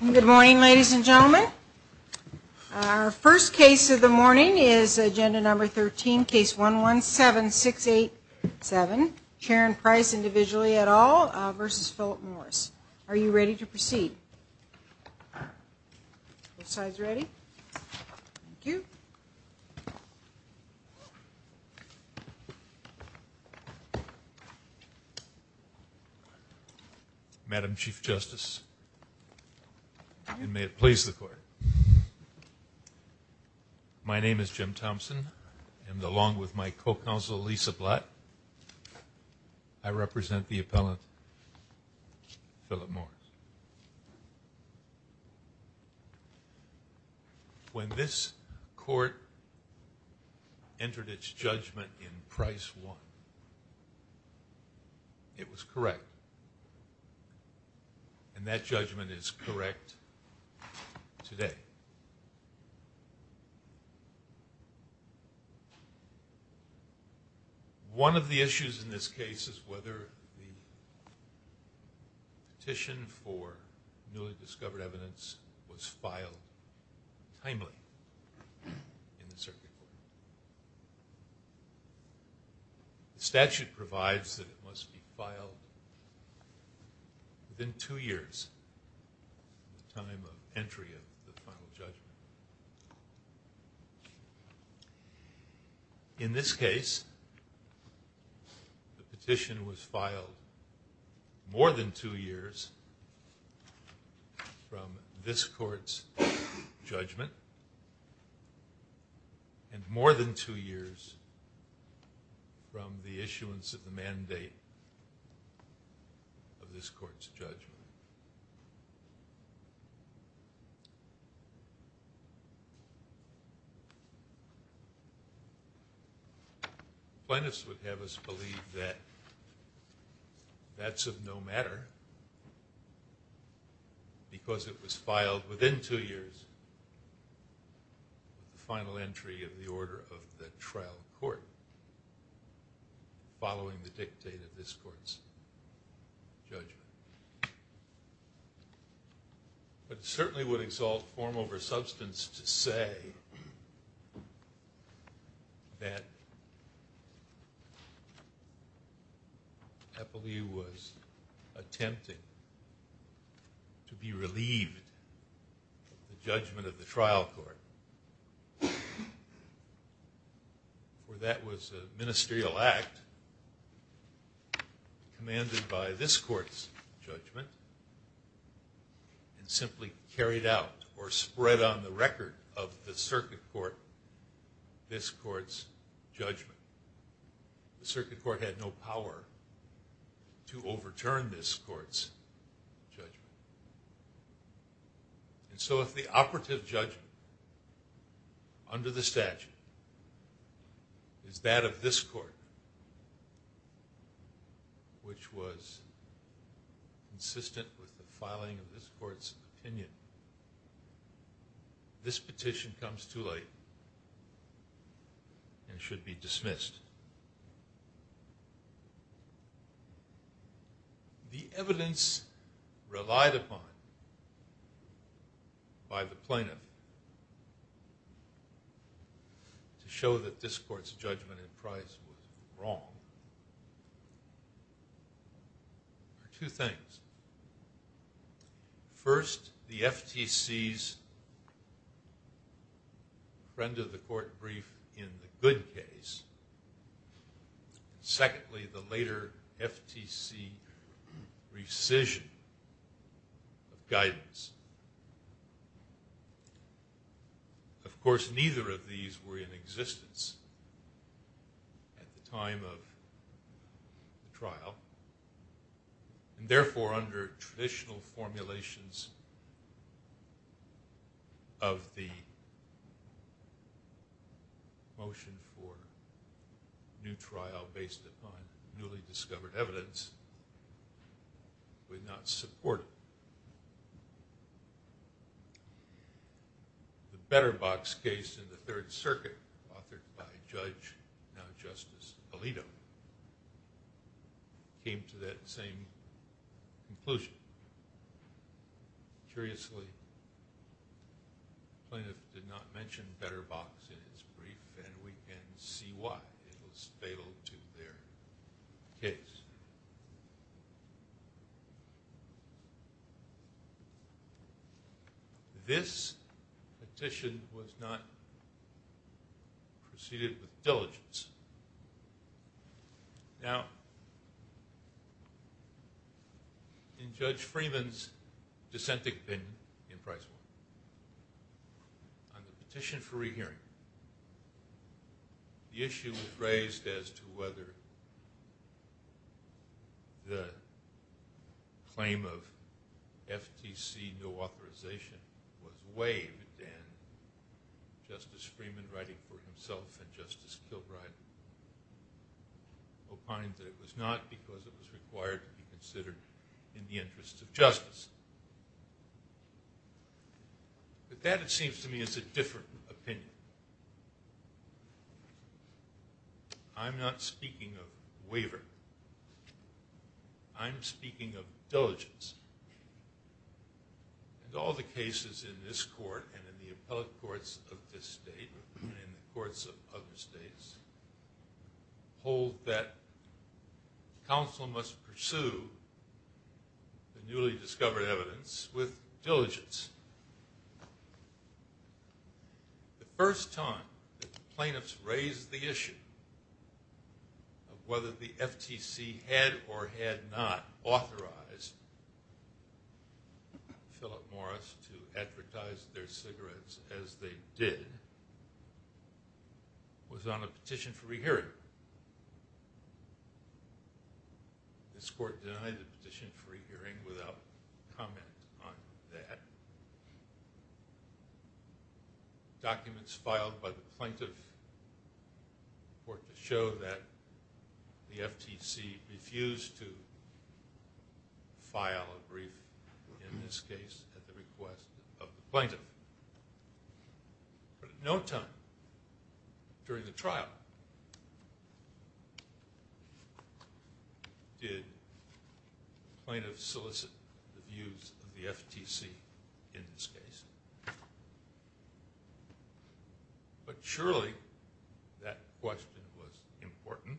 Good morning, ladies and gentlemen. Our first case of the morning is Agenda Number 13, Case 117687, Sharon Price, Individually et al. v. Philip Morris. Are you ready to proceed? Madam Chief Justice, and may it please the Court, my name is Jim Thompson, and along with my co-counsel Lisa Blatt, I represent the appellant, Philip Morris. When this Court entered its judgment in Price v. Morris, it was correct. And that judgment is correct today. One of the issues in this case is whether the petition for newly discovered evidence was filed timely in the Circuit Court. The statute provides that it must be filed within two years from the time of entry of the final judgment. In this case, the petition was filed more than two years from this Court's judgment, and more than two years from the issuance of the mandate of this Court's judgment. Plaintiffs would have us believe that that's of no matter, because it was filed within two years of the final entry of the Order of the Trial Court, following the dictate of this Court's judgment. But it certainly would exalt form over substance to say that Appellee was attempting to be relieved of the judgment of the Trial Court, for that was a ministerial act commanded by this Court's judgment and simply carried out or spread on the record of the Circuit Court this Court's judgment. The Circuit Court had no power to overturn this Court's judgment. And so if the operative judgment under the statute is that of this Court, which was consistent with the filing of this Court's opinion, this petition comes too late and should be dismissed. The evidence relied upon by the plaintiff to show that this Court's judgment and prize was wrong, for two things. First, the FTC's trend of the court brief in the good case. Secondly, the later FTC rescission of guidance. Of course, neither of these were in existence at the time of the trial, and therefore under traditional formulations of the motion for new trial based upon newly discovered evidence, would not support it. The Betterbox case in the Third Circuit, authored by Judge, now Justice, Alito, came to that same conclusion. Curiously, the plaintiff did not mention Betterbox in his brief, and we can see why. It was fatal to their case. This petition was not preceded with diligence. Now, in Judge Freeman's dissenting opinion in Price v. Warren, on the petition for rehearing, the issue was raised as to whether the claim of FTC no authorization was waived, and Justice Freeman, writing for himself and Justice Kilbride, opined that it was not because it was required to be considered in the interest of justice. But that, it seems to me, is a different opinion. I'm not speaking of waiver. I'm speaking of diligence. And all the cases in this court and in the appellate courts of this state and in the courts of other states hold that counsel must pursue the newly discovered evidence with diligence. The first time that the plaintiffs raised the issue of whether the FTC had or had not authorized Philip Morris to advertise their cigarettes as they did was on a petition for rehearing. This court denied the petition for rehearing without comment on that. Documents filed by the plaintiff were to show that the FTC refused to file a brief, in this case, at the request of the plaintiff. But at no time during the trial did the plaintiff solicit the views of the FTC in this case. But surely that question was important,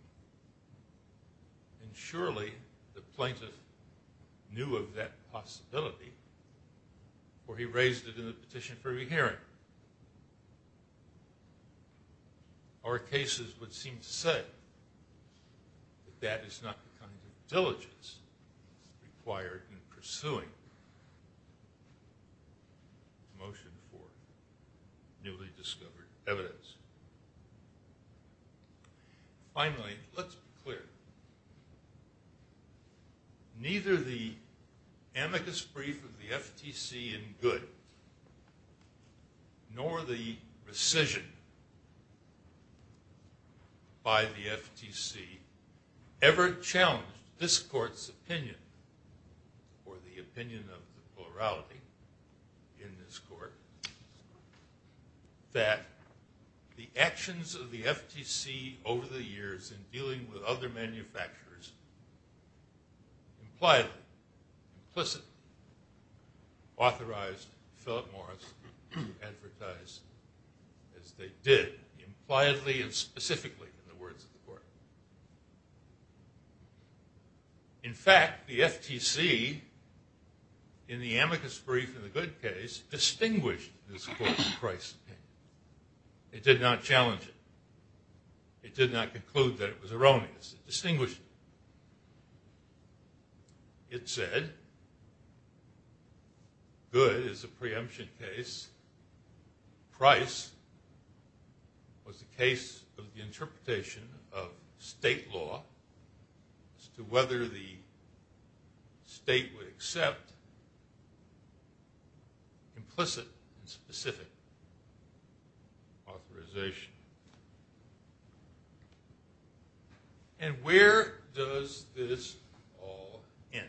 and surely the plaintiff knew of that possibility before he raised it in the petition for rehearing. Our cases would seem to say that that is not the kind of diligence required in pursuing a motion for newly discovered evidence. Finally, let's be clear. Neither the amicus brief of the FTC in good nor the rescission by the FTC ever challenged this court's opinion or the opinion of the plurality in this court that the actions of the FTC over the years in dealing with other manufacturers implied implicit authorized Philip Morris to advertise as they did, impliedly and specifically in the words of the court. In fact, the FTC in the amicus brief in the good case distinguished this court's price opinion. It did not challenge it. It did not conclude that it was erroneous. It distinguished it. It said, good is a preemption case. Price was the case of the interpretation of state law as to whether the state would accept implicit and specific authorization. And where does this all end?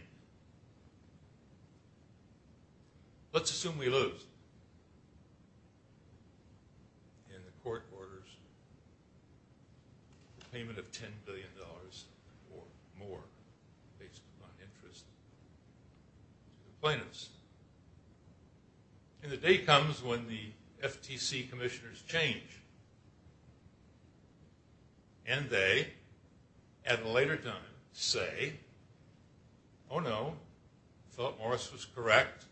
Let's assume we lose. And the court orders the payment of $10 billion or more based upon interest to the plaintiffs. And the day comes when the FTC commissioners change. And they, at a later time, say, oh no, Philip Morris was correct.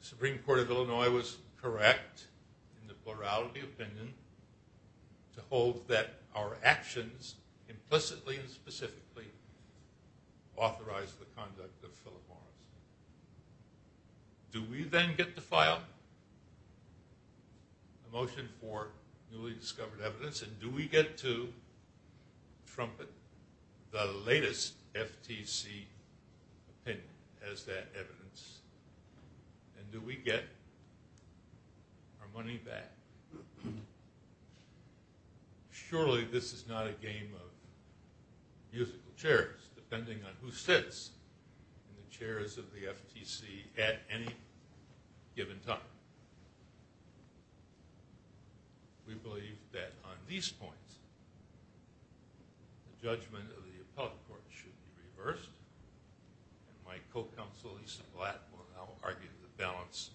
The Supreme Court of Illinois was correct in the plurality opinion to hold that our actions implicitly and specifically authorized the conduct of Philip Morris. Do we then get to file a motion for newly discovered evidence? And do we get to trumpet the latest FTC opinion as that evidence? And do we get our money back? Surely this is not a game of musical chairs, depending on who sits in the chairs of the FTC at any given time. We believe that on these points, the judgment of the appellate court should be reversed. And my co-counsel, Lisa Blatt, will now argue the balance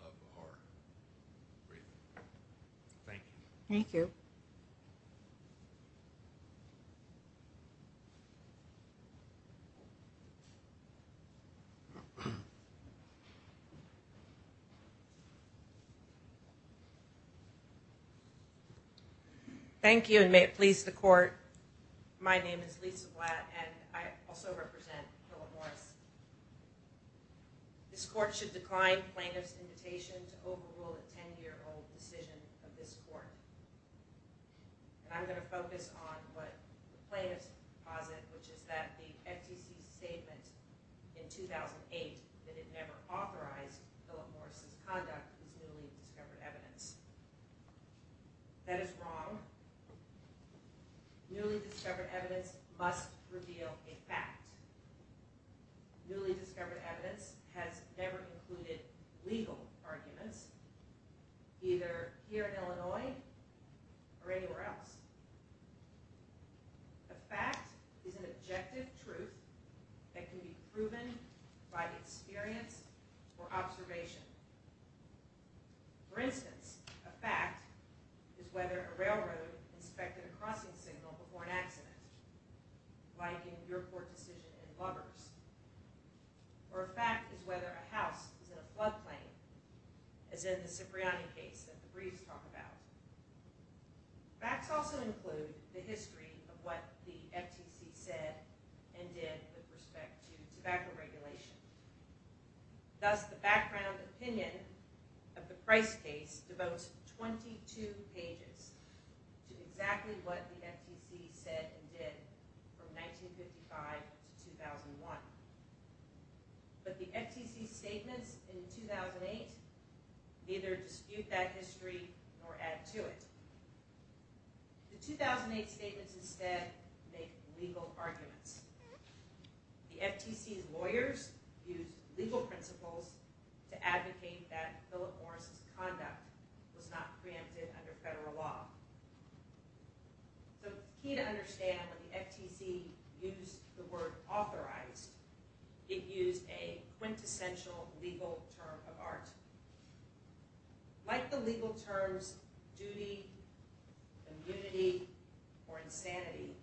of our agreement. Thank you. Thank you. Thank you, and may it please the court. My name is Lisa Blatt, and I also represent Philip Morris. This court should decline plaintiff's invitation to overrule a 10-year-old decision of this court. And I'm going to focus on what the plaintiffs posit, which is that the FTC's statement in 2008 that it never authorized Philip Morris' conduct is newly discovered evidence. That is wrong. Newly discovered evidence must reveal a fact. Newly discovered evidence has never included legal arguments, either here in Illinois or anywhere else. A fact is an objective truth that can be proven by experience or observation. For instance, a fact is whether a railroad inspected a crossing signal before an accident, like in your court decision in Lubbers. Or a fact is whether a house is in a floodplain, as in the Cipriani case that the briefs talk about. Facts also include the history of what the FTC said and did with respect to tobacco regulation. Thus, the background opinion of the Price case devotes 22 pages to exactly what the FTC said and did from 1955 to 2001. But the FTC's statements in 2008 neither dispute that history nor add to it. The 2008 statements instead make legal arguments. The FTC's lawyers used legal principles to advocate that Philip Morris' conduct was not preempted under federal law. The key to understand when the FTC used the word authorized, it used a quintessential legal term of art. Like the legal terms duty, immunity, or insanity,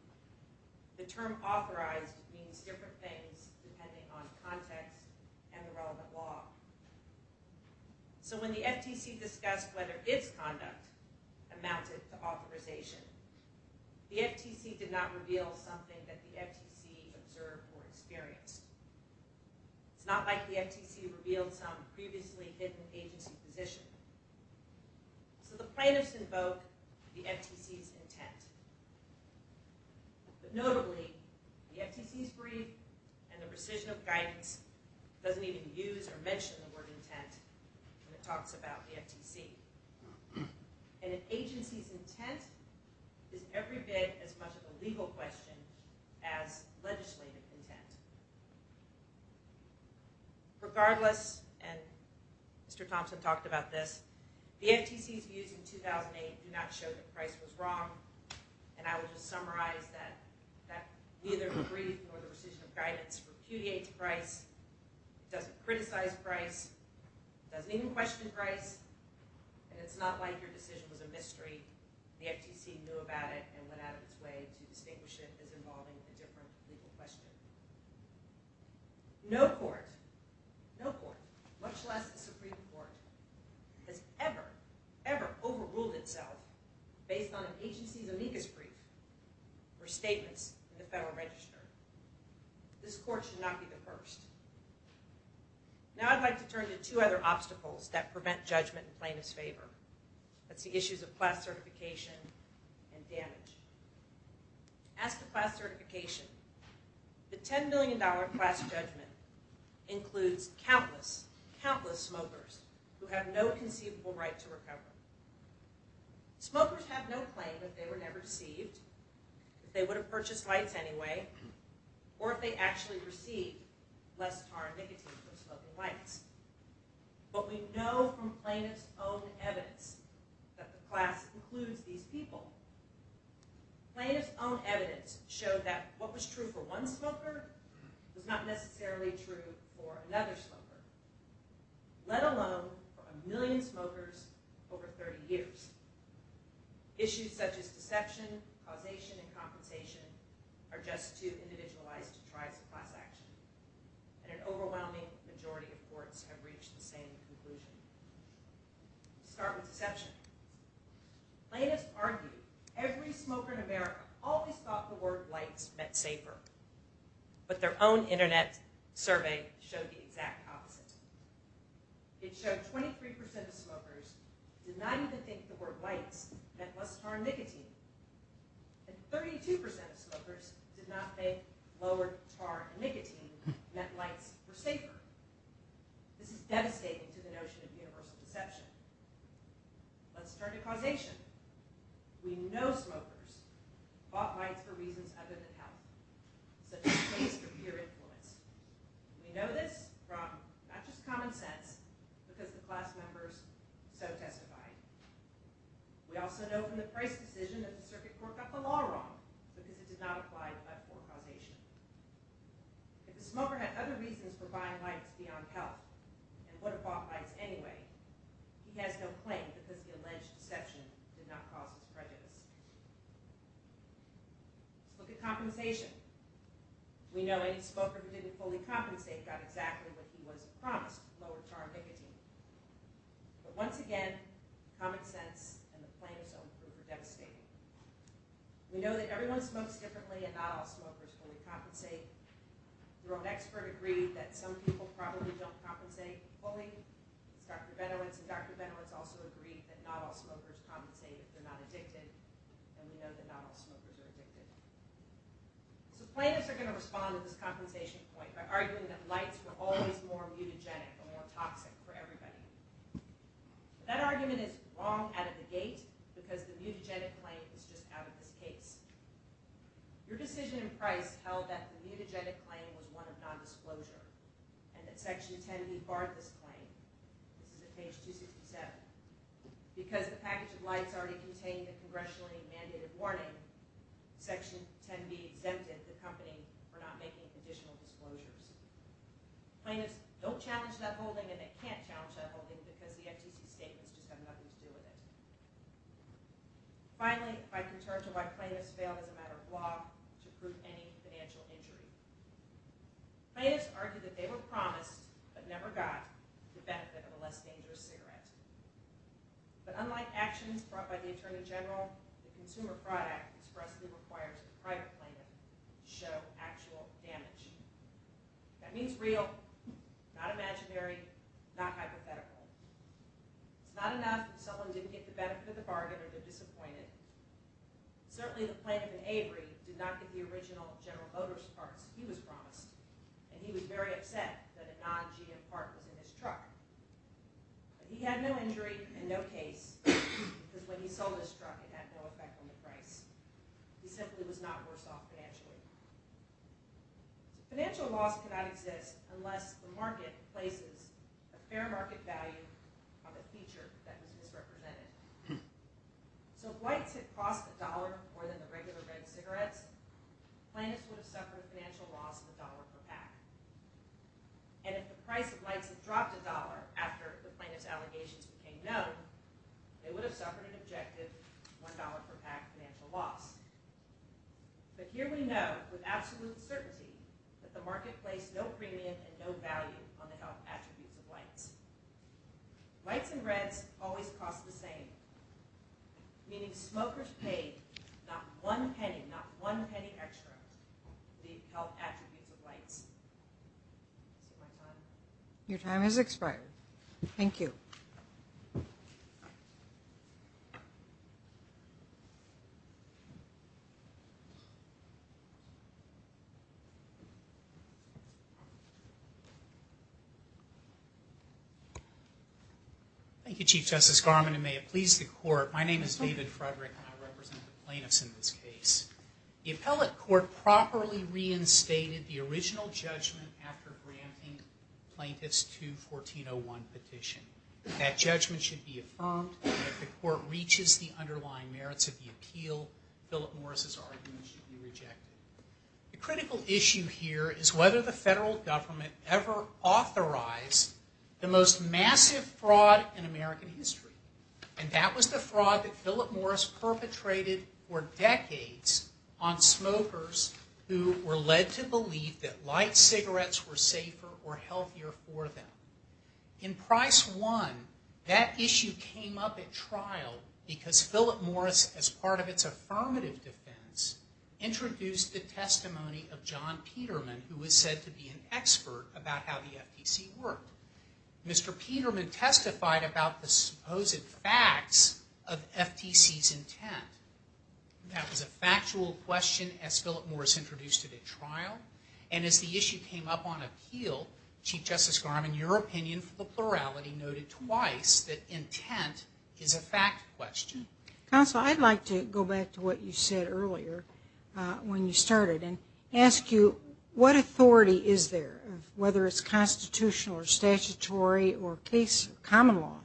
the term authorized means different things depending on context and the relevant law. So when the FTC discussed whether its conduct amounted to authorization, the FTC did not reveal something that the FTC observed or experienced. It's not like the FTC revealed some previously hidden agency position. So the plaintiffs invoke the FTC's intent. But notably, the FTC's brief and the precision of guidance doesn't even use or mention the word intent when it talks about the FTC. And an agency's intent is every bit as much of a legal question as legislative intent. Regardless, and Mr. Thompson talked about this, the FTC's views in 2008 do not show that Price was wrong. And I would just summarize that neither the brief nor the precision of guidance repudiates Price, doesn't criticize Price, doesn't even question Price. And it's not like your decision was a mystery. The FTC knew about it and went out of its way to distinguish it as involving a different legal question. No court, no court, much less the Supreme Court, has ever, ever overruled itself based on an agency's amicus brief or statements in the Federal Register. This court should not be the first. Now I'd like to turn to two other obstacles that prevent judgment in plaintiff's favor. That's the issues of class certification and damage. As to class certification, the $10 million class judgment includes countless, countless smokers who have no conceivable right to recover. Smokers have no claim that they were never deceived, that they would have purchased lights anyway, or if they actually received less tar and nicotine from smoking lights. But we know from plaintiff's own evidence that the class includes these people. Plaintiff's own evidence showed that what was true for one smoker was not necessarily true for another smoker. Let alone for a million smokers over 30 years. Issues such as deception, causation, and compensation are just too individualized to try some class action. And an overwhelming majority of courts have reached the same conclusion. Let's start with deception. Plaintiff's argued every smoker in America always thought the word lights meant safer. But their own internet survey showed the exact opposite. It showed 23% of smokers did not even think the word lights meant less tar and nicotine. And 32% of smokers did not think lower tar and nicotine meant lights were safer. This is devastating to the notion of universal deception. Let's turn to causation. We know smokers bought lights for reasons other than health, such as choice for peer influence. We know this from not just common sense, because the class members so testified. We also know from the price decision that the circuit court got the law wrong, because it did not apply to left-fore causation. If the smoker had other reasons for buying lights beyond health, and would have bought lights anyway, he has no claim, because the alleged deception did not cause his prejudice. Let's look at compensation. We know any smoker who didn't fully compensate got exactly what he was promised, lower tar and nicotine. But once again, common sense and the plaintiff's own group are devastating. We know that everyone smokes differently, and not all smokers fully compensate. Your own expert agreed that some people probably don't compensate fully. Dr. Benowitz and Dr. Benowitz also agreed that not all smokers compensate if they're not addicted. And we know that not all smokers are addicted. So plaintiffs are going to respond to this compensation point by arguing that lights were always more mutagenic and more toxic for everybody. That argument is wrong out of the gate, because the mutagenic claim is just out of this case. Your decision in Price held that the mutagenic claim was one of nondisclosure, and that Section 10B barred this claim. This is at page 267. Because the package of lights already contained the congressionally mandated warning, Section 10B exempted the company from not making additional disclosures. Plaintiffs don't challenge that holding, and they can't challenge that holding, because the FTC statements just have nothing to do with it. Finally, I can turn to why plaintiffs failed as a matter of law to prove any financial injury. Plaintiffs argued that they were promised, but never got, the benefit of a less dangerous cigarette. But unlike actions brought by the Attorney General, the consumer product expressly required to the private plaintiff to show actual damage. That means real, not imaginary, not hypothetical. It's not enough that someone didn't get the benefit of the bargain, or they're disappointed. Certainly, the plaintiff in Avery did not get the original General Motors parts he was promised. And he was very upset that a non-GM part was in his truck. But he had no injury and no case, because when he sold his truck, it had no effect on the price. He simply was not worse off financially. Financial loss cannot exist unless the market places a fair market value on a feature that was misrepresented. So if lights had cost a dollar more than the regular red cigarettes, plaintiffs would have suffered a financial loss of a dollar per pack. And if the price of lights had dropped a dollar after the plaintiff's allegations became known, they would have suffered an objective $1 per pack financial loss. But here we know with absolute certainty that the market placed no premium and no value on the health attributes of lights. Lights and reds always cost the same, meaning smokers paid not one penny, not one penny extra for the health attributes of lights. Your time has expired. Thank you. Thank you, Chief Justice Garmon, and may it please the Court, my name is David Frederick, and I represent the plaintiffs in this case. The appellate court properly reinstated the original judgment after granting Plaintiff's 2-1401 petition. That judgment should be affirmed, and if the court reaches the underlying merits of the appeal, Philip Morris' argument should be rejected. The critical issue here is whether the federal government ever authorized the most massive fraud in American history. And that was the fraud that Philip Morris perpetrated for decades on smokers who were led to believe that light cigarettes were safer or healthier for them. In Price 1, that issue came up at trial because Philip Morris, as part of its affirmative defense, introduced the testimony of John Peterman, who was said to be an expert about how the FTC worked. Mr. Peterman testified about the supposed facts of FTC's intent. That was a factual question as Philip Morris introduced it at trial. And as the issue came up on appeal, Chief Justice Garmon, your opinion for the plurality noted twice that intent is a fact question. Counsel, I'd like to go back to what you said earlier when you started and ask you, what authority is there, whether it's constitutional or statutory or common law,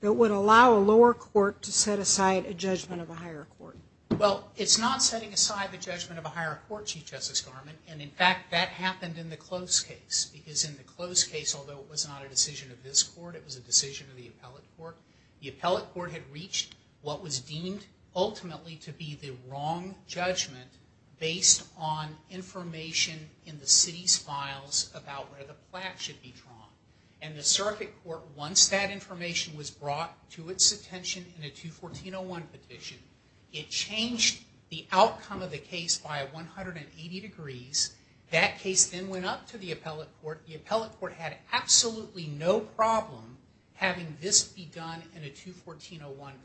that would allow a lower court to set aside a judgment of a higher court? Well, it's not setting aside the judgment of a higher court, Chief Justice Garmon, and in fact that happened in the Close case. Because in the Close case, although it was not a decision of this court, it was a decision of the appellate court, the appellate court had reached what was deemed ultimately to be the wrong judgment based on information in the city's files about where the plaque should be drawn. And the circuit court, once that information was brought to its attention in a 214.01 petition, it changed the outcome of the case by 180 degrees. That case then went up to the appellate court, the appellate court had absolutely no problem having this be done in a 214.01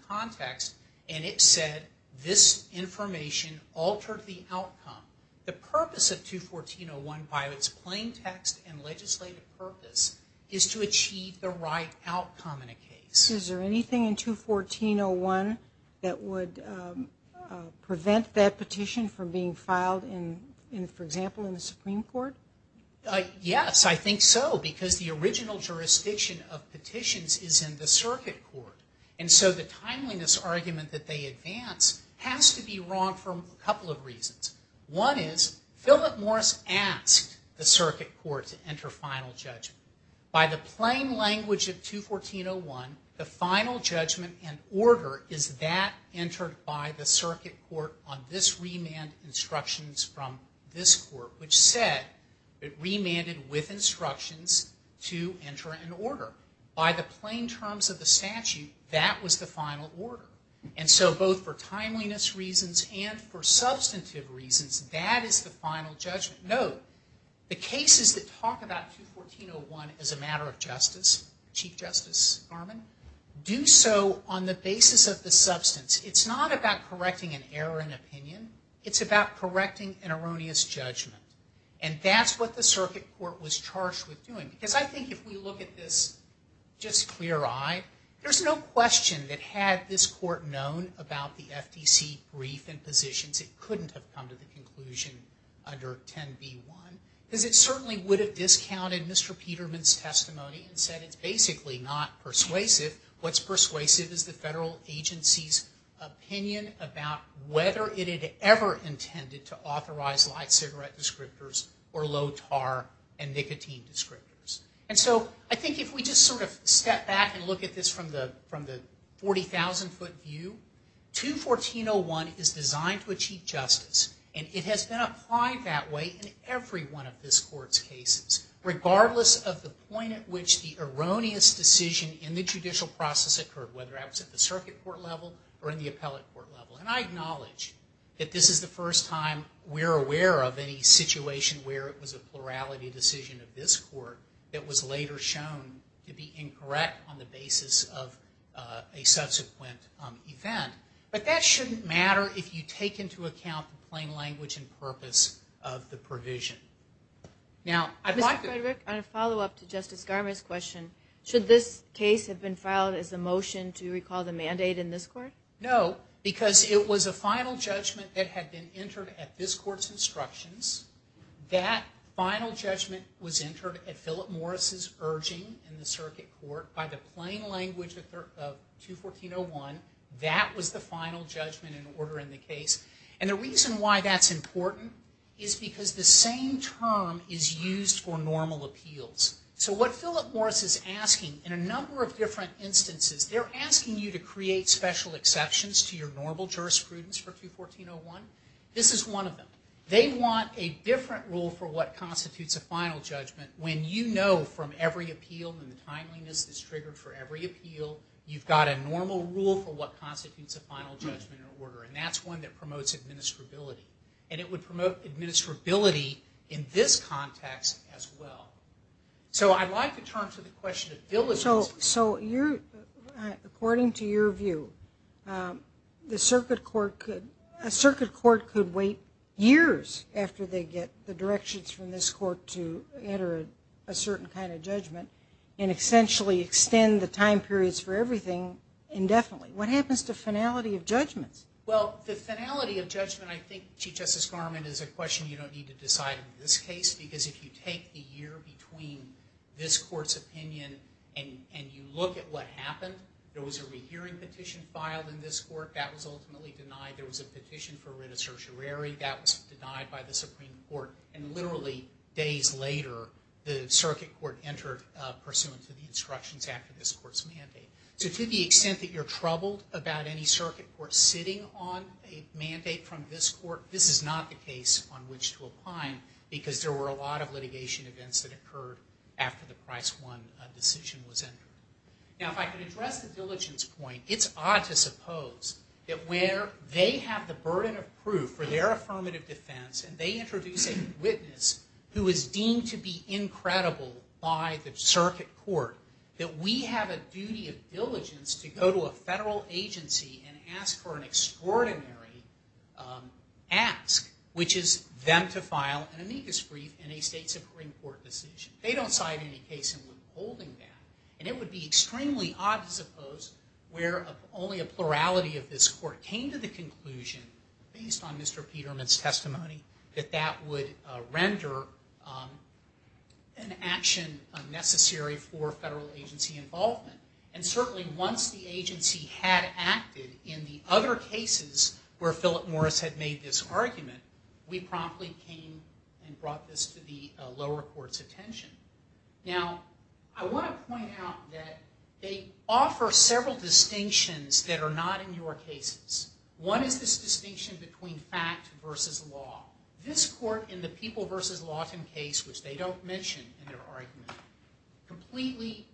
context, and it said this information altered the outcome. The purpose of 214.01, by its plain text and legislative purpose, is to achieve the right outcome in a case. Is there anything in 214.01 that would prevent that petition from being filed, for example, in the Supreme Court? Yes, I think so, because the original jurisdiction of petitions is in the circuit court. And so the timeliness argument that they advance has to be wrong for a couple of reasons. One is, Philip Morris asked the circuit court to enter final judgment. By the plain language of 214.01, the final judgment and order is that entered by the circuit court on this remand instructions from this court, which said it remanded with instructions to enter an order. By the plain terms of the statute, that was the final order. And so both for timeliness reasons and for substantive reasons, that is the final judgment. Note, the cases that talk about 214.01 as a matter of justice, Chief Justice Garmon, do so on the basis of the substance. It's not about correcting an error in opinion. It's about correcting an erroneous judgment. And that's what the circuit court was charged with doing. Because I think if we look at this just clear-eyed, there's no question that had this court known about the FDC brief and positions, it couldn't have come to the conclusion under 10b.1. Because it certainly would have discounted Mr. Peterman's testimony and said it's basically not persuasive. What's persuasive is the federal agency's opinion about whether it had ever intended to authorize light cigarette descriptors or low-tar and nicotine descriptors. And so I think if we just sort of step back and look at this from the 40,000-foot view, 214.01 is designed to achieve justice. And it has been applied that way in every one of this court's cases, regardless of the point at which the erroneous decision in the judicial process occurred, whether that was at the circuit court level or in the appellate court level. And I acknowledge that this is the first time we're aware of any situation where it was a plurality decision of this court that was later shown to be incorrect on the basis of a subsequent event. But that shouldn't matter if you take into account the plain language and purpose of the provision. Now, I'd like to... Ms. Frederick, on a follow-up to Justice Garmer's question, should this case have been filed as a motion to recall the mandate in this court? No, because it was a final judgment that had been entered at this court's instructions. That final judgment was entered at Philip Morris's urging in the circuit court by the plain language of 214.01. That was the final judgment in order in the case. And the reason why that's important is because the same term is used for normal appeals. So what Philip Morris is asking, in a number of different instances, they're asking you to create special exceptions to your normal jurisprudence for 214.01. This is one of them. They want a different rule for what constitutes a final judgment when you know from every appeal and the timeliness that's triggered for every appeal, you've got a normal rule for what constitutes a final judgment in order. And that's one that promotes administrability. And it would promote administrability in this context as well. So I'd like to turn to the question of diligence. So according to your view, a circuit court could wait years after they get the directions from this court to enter a certain kind of judgment and essentially extend the time periods for everything indefinitely. What happens to finality of judgments? Well, the finality of judgment, I think, Chief Justice Garment, is a question you don't need to decide in this case. Because if you take the year between this court's opinion and you look at what happened, there was a rehearing petition filed in this court. That was ultimately denied. There was a petition for writ of certiorari. That was denied by the Supreme Court. And literally days later, the circuit court entered, pursuant to the instructions after this court's mandate. So to the extent that you're troubled about any circuit court sitting on a mandate from this court, this is not the case on which to opine. Because there were a lot of litigation events that occurred after the Price 1 decision was entered. Now, if I could address the diligence point, it's odd to suppose that where they have the burden of proof for their affirmative defense and they introduce a witness who is deemed to be incredible by the circuit court, that we have a duty of diligence to go to a federal agency and ask for an extraordinary ask, which is them to file an amicus brief in a state Supreme Court decision. They don't cite any case in withholding that. And it would be extremely odd to suppose where only a plurality of this court came to the conclusion, based on Mr. Peterman's testimony, that that would render an action unnecessary for federal agency involvement. And certainly once the agency had acted in the other cases where Philip Morris had made this argument, we promptly came and brought this to the lower court's attention. Now, I want to point out that they offer several distinctions that are not in your cases. One is this distinction between fact versus law. This court in the People v. Lawton case, which they don't mention in their argument, completely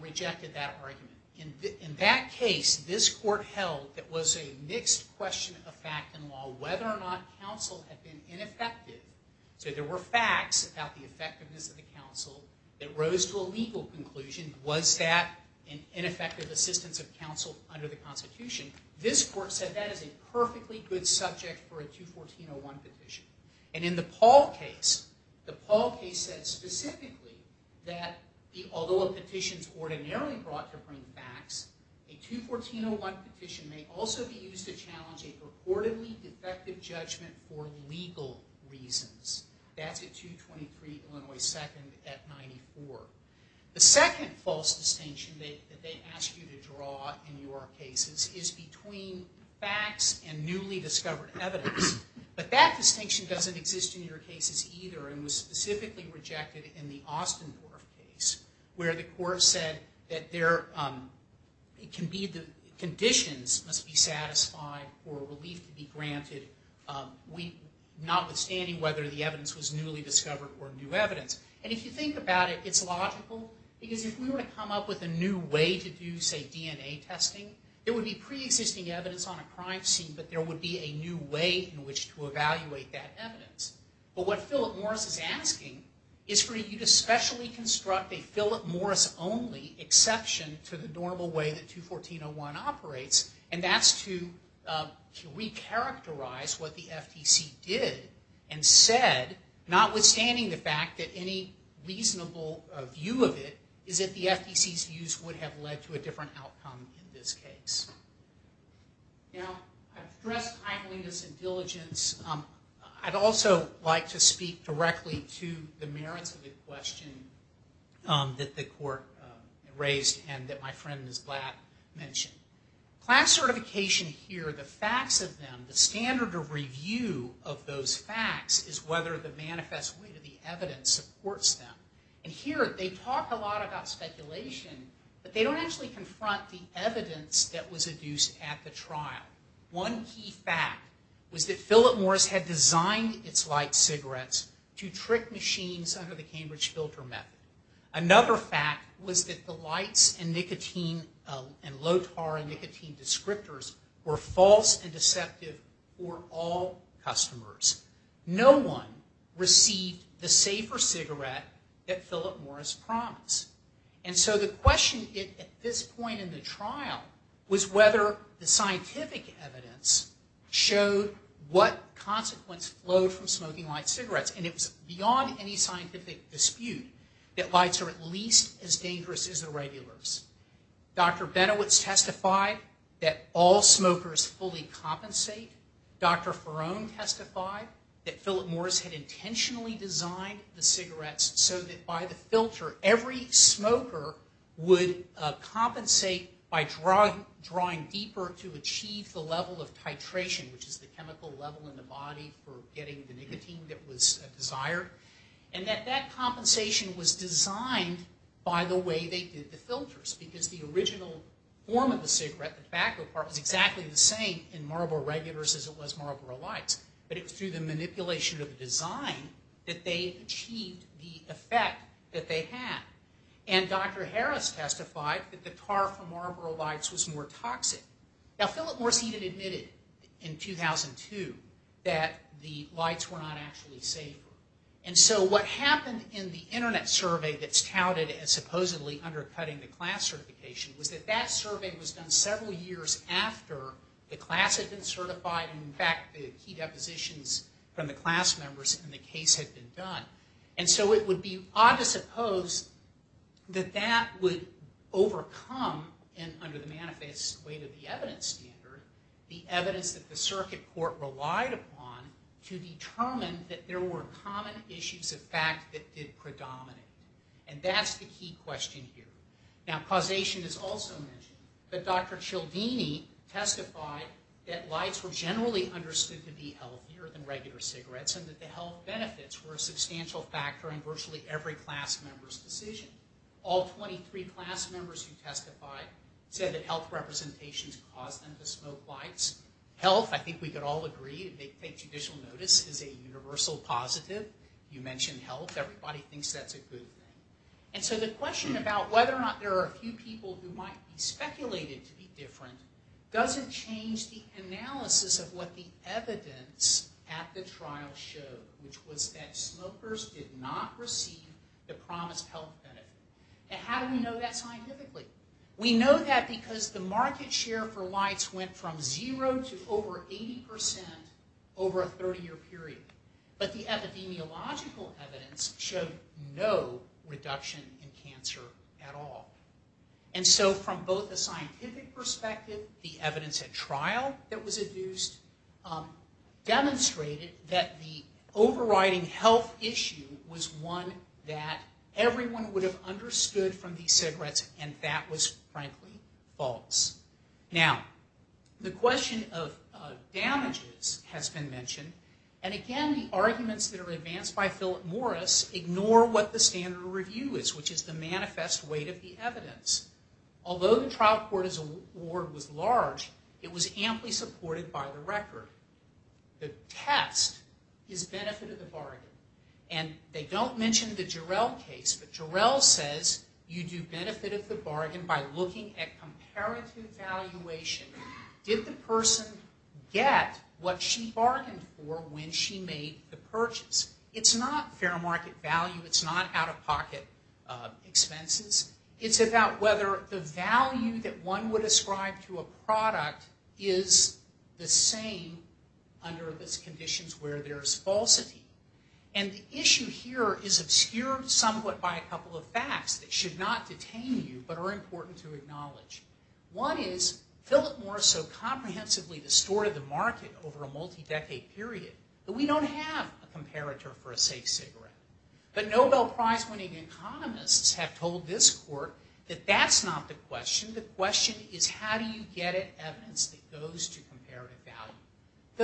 rejected that argument. In that case, this court held that was a mixed question of fact and law, whether or not counsel had been ineffective. So there were facts about the effectiveness of the counsel that rose to a legal conclusion. Was that an ineffective assistance of counsel under the Constitution? This court said that is a perfectly good subject for a 214.01 petition. And in the Paul case, the Paul case said specifically that although a petition is ordinarily brought to bring facts, a 214.01 petition may also be used to challenge a purportedly defective judgment for legal reasons. That's at 223 Illinois 2nd at 94. The second false distinction that they ask you to draw in your cases is between facts and newly discovered evidence. But that distinction doesn't exist in your cases either and was specifically rejected in the Ostendorf case, where the court said that conditions must be satisfied for relief to be granted, notwithstanding whether the evidence was newly discovered or new evidence. And if you think about it, it's logical. Because if we were to come up with a new way to do, say, DNA testing, it would be pre-existing evidence on a crime scene, but there would be a new way in which to evaluate that evidence. But what Philip Morris is asking is for you to specially construct a Philip Morris-only exception to the normal way that 214.01 operates, and that's to re-characterize what the FTC did and said, notwithstanding the fact that any reasonable view of it is that the FTC's views would have led to a different outcome in this case. Now, I've addressed timeliness and diligence. I'd also like to speak directly to the merits of the question that the court raised and that my friend Ms. Blatt mentioned. Class certification here, the facts of them, the standard of review of those facts is whether the manifest weight of the evidence supports them. And here, they talk a lot about speculation, but they don't actually confront the evidence that was adduced at the trial. One key fact was that Philip Morris had designed its light cigarettes to trick machines under the Cambridge filter method. Another fact was that the lights and nicotine and low-tar and nicotine descriptors were false and deceptive for all customers. No one received the safer cigarette that Philip Morris promised. And so the question at this point in the trial was whether the scientific evidence showed what consequence flowed from smoking light cigarettes. And it was beyond any scientific dispute that lights are at least as dangerous as the regulars. Dr. Benowitz testified that all smokers fully compensate. Dr. Farone testified that Philip Morris had intentionally designed the cigarettes so that by the filter, every smoker would compensate by drawing deeper to achieve the level of titration, which is the chemical level in the body for getting the nicotine that was desired. And that that compensation was designed by the way they did the filters because the original form of the cigarette, the tobacco part, was exactly the same in Marlboro regulars as it was Marlboro lights. But it was through the manipulation of the design that they achieved the effect that they had. And Dr. Harris testified that the tar from Marlboro lights was more toxic. Now Philip Morris even admitted in 2002 that the lights were not actually safer. And so what happened in the Internet survey that's touted as supposedly undercutting the class certification was that that survey was done several years after the class had been certified and in fact the key depositions from the class members in the case had been done. And so it would be odd to suppose that that would overcome under the manifest way to the evidence standard, the evidence that the circuit court relied upon to determine that there were common issues of fact that did predominate. And that's the key question here. Now causation is also mentioned, but Dr. Cialdini testified that lights were generally understood to be healthier than regular cigarettes and that the health benefits were a substantial factor in virtually every class member's decision. All 23 class members who testified said that health representations caused them to smoke lights. Health, I think we could all agree, if they take judicial notice is a universal positive. You mentioned health, everybody thinks that's a good thing. And so the question about whether or not there are a few people who might be speculated to be different doesn't change the analysis of what the evidence at the trial showed, which was that smokers did not receive the promised health benefit. And how do we know that scientifically? We know that because the market share for lights went from zero to over 80% over a 30-year period. But the epidemiological evidence showed no reduction in cancer at all. And so from both a scientific perspective, the evidence at trial that was adduced demonstrated that the overriding health issue was one that everyone would have understood from these cigarettes and that was, frankly, false. Now, the question of damages has been mentioned. And again, the arguments that are advanced by Philip Morris ignore what the standard review is, which is the manifest weight of the evidence. Although the trial court's award was large, it was amply supported by the record. The test is benefit of the bargain. And they don't mention the Jarrell case, but Jarrell says you do benefit of the bargain by looking at comparative valuation. Did the person get what she bargained for when she made the purchase? It's not fair market value. It's not out-of-pocket expenses. It's about whether the value that one would ascribe to a product is the same under the conditions where there's falsity. And the issue here is obscured somewhat by a couple of facts that should not detain you but are important to acknowledge. One is Philip Morris so comprehensively distorted the market over a multi-decade period that we don't have a comparator for a safe cigarette. But Nobel Prize winning economists have told this court that that's not the question. The question is how do you get at evidence that goes to comparative value.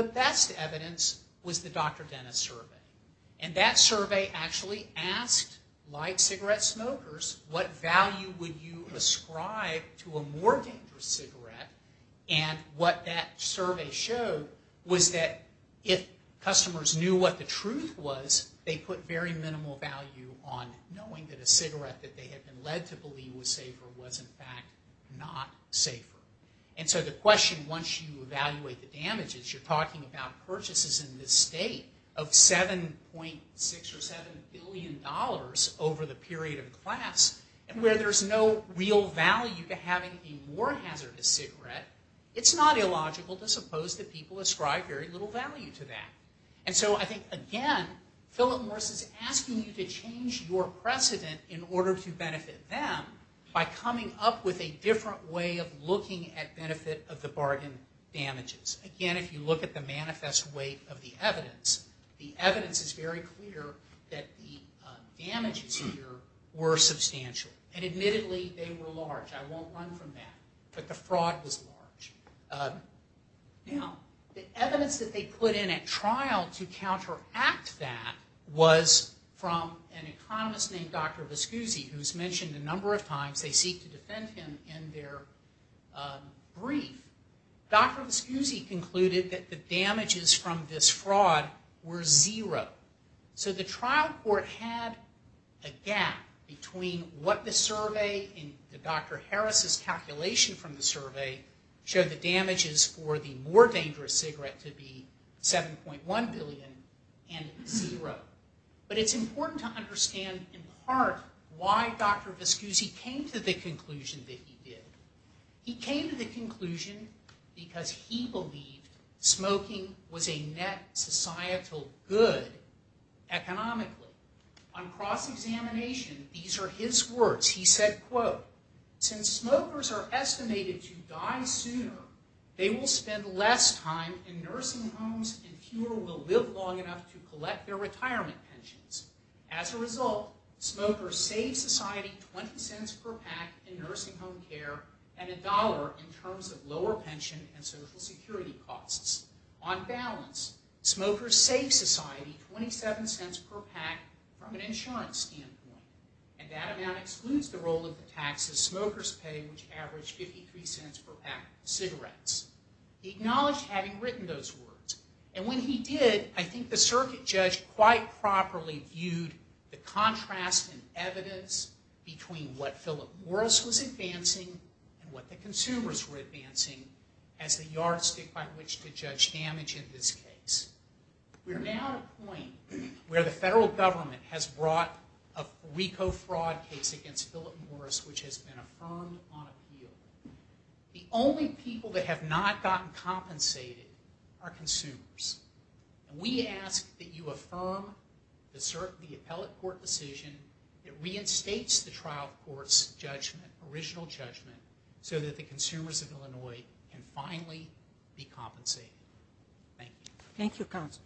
The best evidence was the Dr. Dennis survey. And that survey actually asked light cigarette smokers what value would you ascribe to a more dangerous cigarette. And what that survey showed was that if customers knew what the truth was, they put very minimal value on knowing that a cigarette that they had been led to believe was safer was in fact not safer. And so the question, once you evaluate the damages, you're talking about purchases in this state of $7.6 or $7 billion over the period of class. And where there's no real value to having a more hazardous cigarette, it's not illogical to suppose that people ascribe very little value to that. And so I think, again, Philip Morris is asking you to change your precedent in order to benefit them by coming up with a different way of looking at benefit of the bargain damages. Again, if you look at the manifest weight of the evidence, the evidence is very clear that the damages here were substantial. And admittedly, they were large. I won't run from that. But the fraud was large. Now, the evidence that they put in at trial to counteract that was from an economist named Dr. Viscusi, who's mentioned a number of times. They seek to defend him in their brief. Dr. Viscusi concluded that the damages from this fraud were zero. So the trial court had a gap where they showed the damages for the more dangerous cigarette to be $7.1 billion and zero. But it's important to understand in part why Dr. Viscusi came to the conclusion that he did. He came to the conclusion because he believed smoking was a net societal good economically. On cross-examination, these are his words. He said, quote, Since smokers are estimated to die sooner, they will spend less time in nursing homes and fewer will live long enough to collect their retirement pensions. As a result, smokers save society 20 cents per pack in nursing home care and a dollar in terms of lower pension and Social Security costs. On balance, smokers save society 27 cents per pack from an insurance standpoint. And that amount excludes the role of the taxes smokers pay, which average 53 cents per pack of cigarettes. He acknowledged having written those words. And when he did, I think the circuit judge quite properly viewed the contrast in evidence between what Philip Morris was advancing and what the consumers were advancing as the yardstick by which to judge damage in this case. We're now at a point where the federal government has brought a RICO fraud case against Philip Morris, which has been affirmed on appeal. The only people that have not gotten compensated are consumers. And we ask that you affirm the appellate court decision that reinstates the trial court's judgment, original judgment, so that the consumers of Illinois can finally be compensated. Thank you. Thank you, counsel.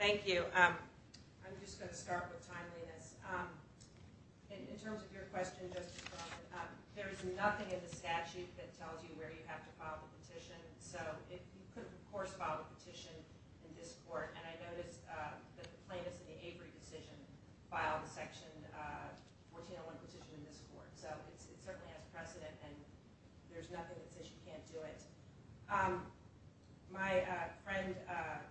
Thank you. I'm just going to start with timeliness. In terms of your question, Justice Bronson, there is nothing in the statute that tells you where you have to file a petition. So you couldn't, of course, file a petition in this court. And I noticed that the plaintiffs in the Avery decision filed a Section 1401 petition in this court. So it certainly has precedent, and there's nothing that says you can't do it. My friend,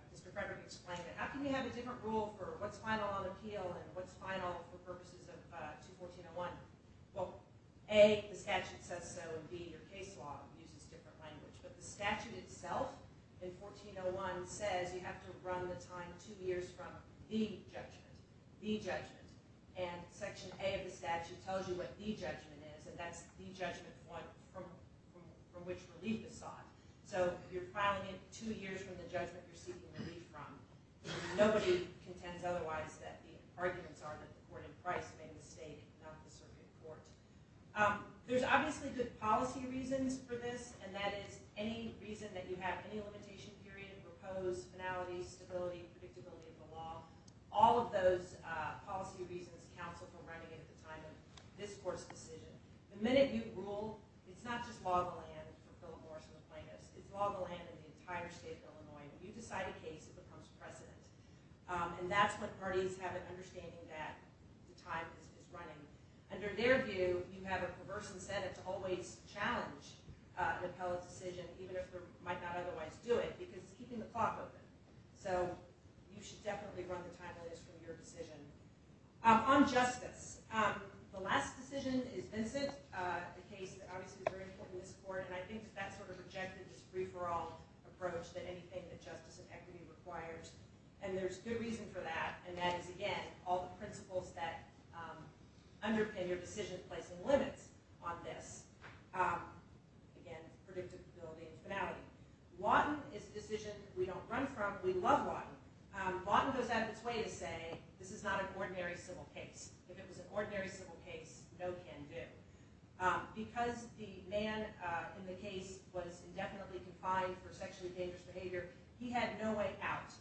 Mr. Frederick, explained it. How can you have a different rule for what's final on appeal and what's final for purposes of 21401? Well, A, the statute says so, and B, your case law uses different language. But the statute itself in 1401 says you have to run the time two years from the judgment, the judgment. And Section A of the statute tells you what the judgment is, and that's the judgment from which relief is sought. So if you're filing it two years from the judgment you're seeking relief from, nobody contends otherwise that the arguments are that the court in Christ made a mistake, not the circuit court. There's obviously good policy reasons for this, and that is any reason that you have any limitation period, a proposed finality, stability, predictability of the law, all of those policy reasons counsel for running it at the time of this court's decision. The minute you rule, it's not just law of the land for Philip Morris and the plaintiffs. It's law of the land in the entire state of Illinois. If you decide a case, it becomes precedent. And that's when parties have an understanding that the time is running. Under their view, you have a perverse incentive to always challenge the appellate's decision, even if they might not otherwise do it, because it's keeping the clock open. So you should definitely run the time that is from your decision. On justice, the last decision is Vincent, a case that obviously is very important in this court, and I think that sort of rejected this free-for-all approach that anything that justice and equity requires. And there's good reason for that, and that is, again, all the principles that underpin your decision placing limits on this. Again, predictability and finality. Wadden is a decision that we don't run from. We love Wadden. Wadden goes out of its way to say, this is not an ordinary civil case. If it was an ordinary civil case, no can do. Because the man in the case was indefinitely confined for sexually dangerous behavior, he had no way out.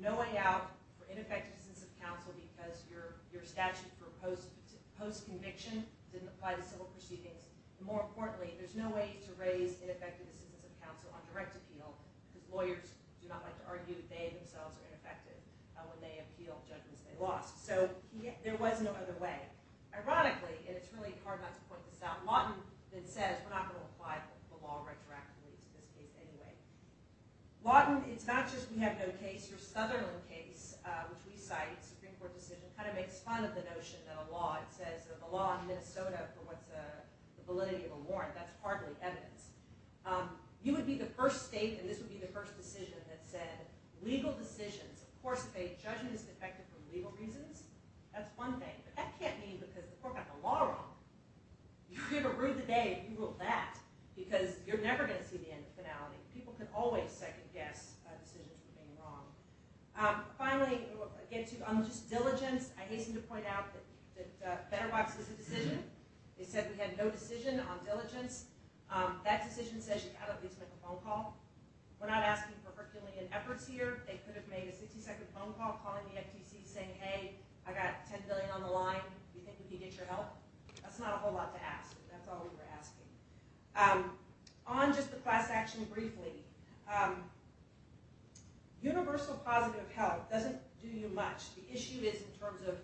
No way out for ineffective assistance of counsel because your statute for post-conviction didn't apply to civil proceedings. More importantly, there's no way to raise ineffective assistance of counsel on direct appeal because lawyers do not like to argue they themselves are ineffective when they appeal judgments they lost. So there was no other way. Ironically, and it's really hard not to point this out, Wadden then says, we're not going to apply the law retroactively to this case anyway. Wadden, it's not just we have no case. Your Southerland case, which we cite, Supreme Court decision, kind of makes fun of the notion of the law. It says the law in Minnesota for what's the validity of a warrant. That's partly evidence. You would be the first state, and this would be the first decision, that said legal decisions, of course, if a judgment is defective for legal reasons, that's one thing. But that can't mean because the court got the law wrong. You have a rude debate, you rule that. Because you're never going to see the end of finality. People can always second guess decisions for being wrong. Finally, again, too, on just diligence, I hasten to point out that Better Wives was a decision. They said we had no decision on diligence. That decision says you've got to at least make a phone call. We're not asking for herculean efforts here. They could have made a 60-second phone call, calling the FTC, saying, hey, I've got $10 billion on the line. Do you think we can get your help? That's not a whole lot to ask. That's all we were asking. On just the class action briefly, universal positive help doesn't do you much. The issue is in terms of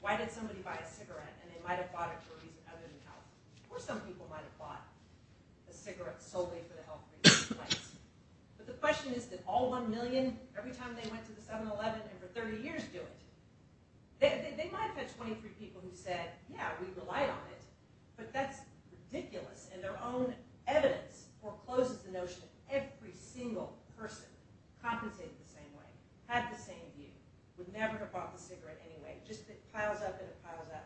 why did somebody buy a cigarette, and they might have bought it for a reason other than health. Or some people might have bought a cigarette solely for the health reasons. But the question is, did all one million, every time they went to the 7-Eleven and for 30 years do it? They might have had 23 people who said, yeah, we relied on it. But that's ridiculous. And their own evidence forecloses the notion that every single person compensated the same way, had the same view, would never have bought the cigarette anyway. It just piles up and it piles up.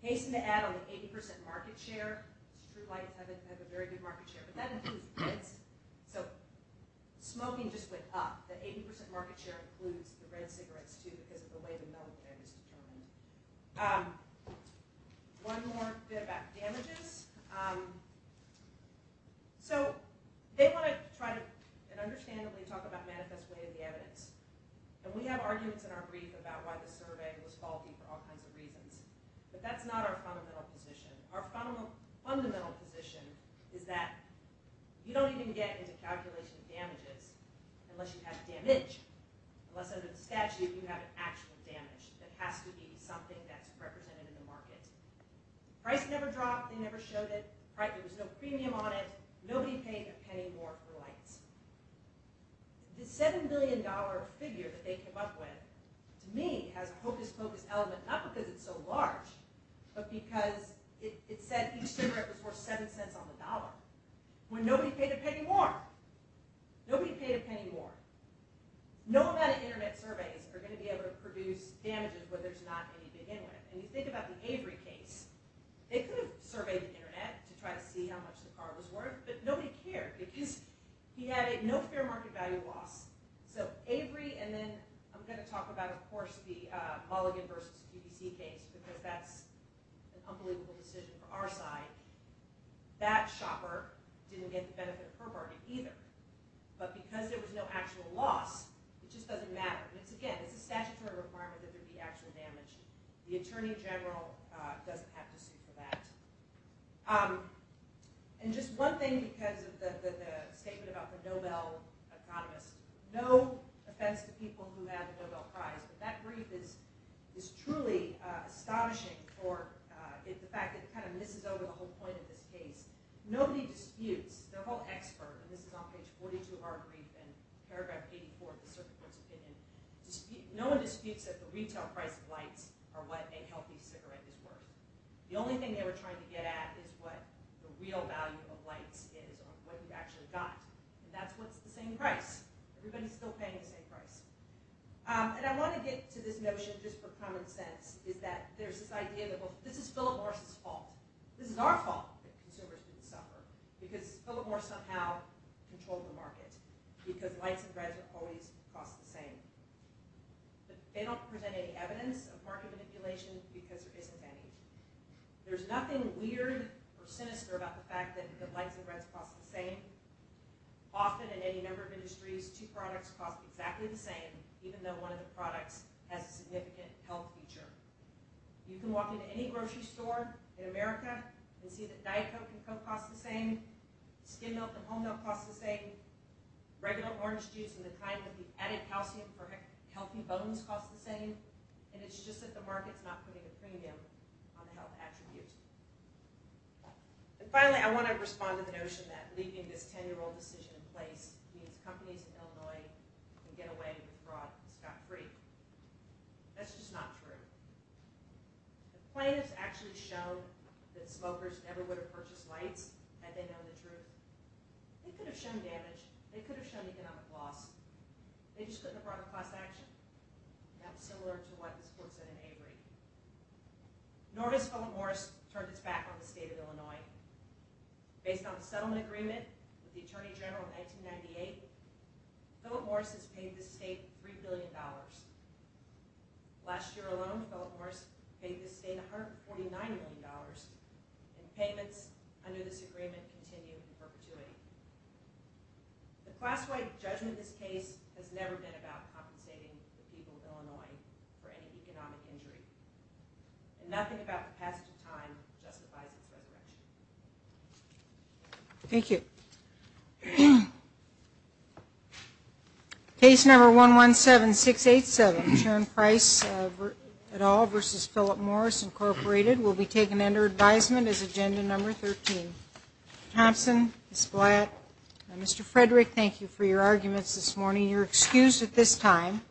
Hasten to add, on the 80% market share, True Light has a very good market share. But that includes kids. So smoking just went up. The 80% market share includes the red cigarettes, too, because of the way the military is determining them. One more bit about damages. So they want to try and understandably talk about manifest way of the evidence. And we have arguments in our brief about why the survey was faulty for all kinds of reasons. But that's not our fundamental position. Our fundamental position is that you don't even get into calculation of damages unless you have damage. Unless under the statute you have actual damage that has to be something that's represented in the market. Price never dropped. They never showed it. There was no premium on it. Nobody paid a penny more for lights. The $7 billion figure that they came up with, to me, has a hocus pocus element, not because it's so large, but because it said each cigarette was worth $0.07 on the dollar, when nobody paid a penny more. Nobody paid a penny more. No amount of internet surveys are going to be able to produce damages where there's not any to begin with. And you think about the Avery case. They could have surveyed the internet to try to see how much the car was worth, but nobody cared because he had no fair market value loss. So Avery, and then I'm going to talk about, of course, the Mulligan versus PPC case, because that's an unbelievable decision for our side. That shopper didn't get the benefit of her bargain either. But because there was no actual loss, it just doesn't matter. And again, it's a statutory requirement that there be actual damage. The attorney general doesn't have to sue for that. And just one thing, because of the statement about the Nobel economist, no offense to people who have the Nobel Prize, but that brief is truly astonishing for the fact that it kind of misses over the whole point of this case. Nobody disputes, their whole expert, and this is on page 42 of our brief, and paragraph 84 of the Circuit Court's opinion, no one disputes that the retail price of lights are what a healthy cigarette is worth. The only thing they were trying to get at is what the real value of lights is, or what you've actually got. And that's what's the same price. Everybody's still paying the same price. And I want to get to this notion, just for common sense, is that there's this idea that this is Philip Morris's fault. This is our fault that consumers didn't suffer, because Philip Morris somehow controlled the market, because lights and breads will always cost the same. But they don't present any evidence of market manipulation, because there isn't any. There's nothing weird or sinister about the fact that lights and breads cost the same. Often in any number of industries, two products cost exactly the same, even though one of the products has a significant health feature. You can walk into any grocery store in America and see that Diet Coke and Coke cost the same, skim milk and whole milk cost the same, regular orange juice and the kind that we've added calcium for healthy bones cost the same, and it's just that the market's not putting a premium on the health attribute. And finally, I want to respond to the notion that leaving this 10-year-old decision in place means companies in Illinois can get away with fraud and scot-free. That's just not true. The plaintiffs actually showed that smokers never would have purchased lights had they known the truth. They could have shown damage. They could have shown economic loss. They just couldn't have brought a class action. That's similar to what this court said in Avery. Nor has Philip Morris turned its back on the state of Illinois. Based on a settlement agreement with the Attorney General in 1998, Philip Morris has paid this state $3 billion. Last year alone, Philip Morris paid this state $149 million, and payments under this agreement continue in perpetuity. The class-wide judgment of this case has never been about compensating the people of Illinois for any economic injury, and nothing about the passage of time justifies its resurrection. Thank you. Case number 117687, Sharon Price et al. v. Philip Morris, Incorporated, will be taken under advisement as agenda number 13. Ms. Thompson, Ms. Blatt, Mr. Frederick, thank you for your arguments this morning. You're excused at this time.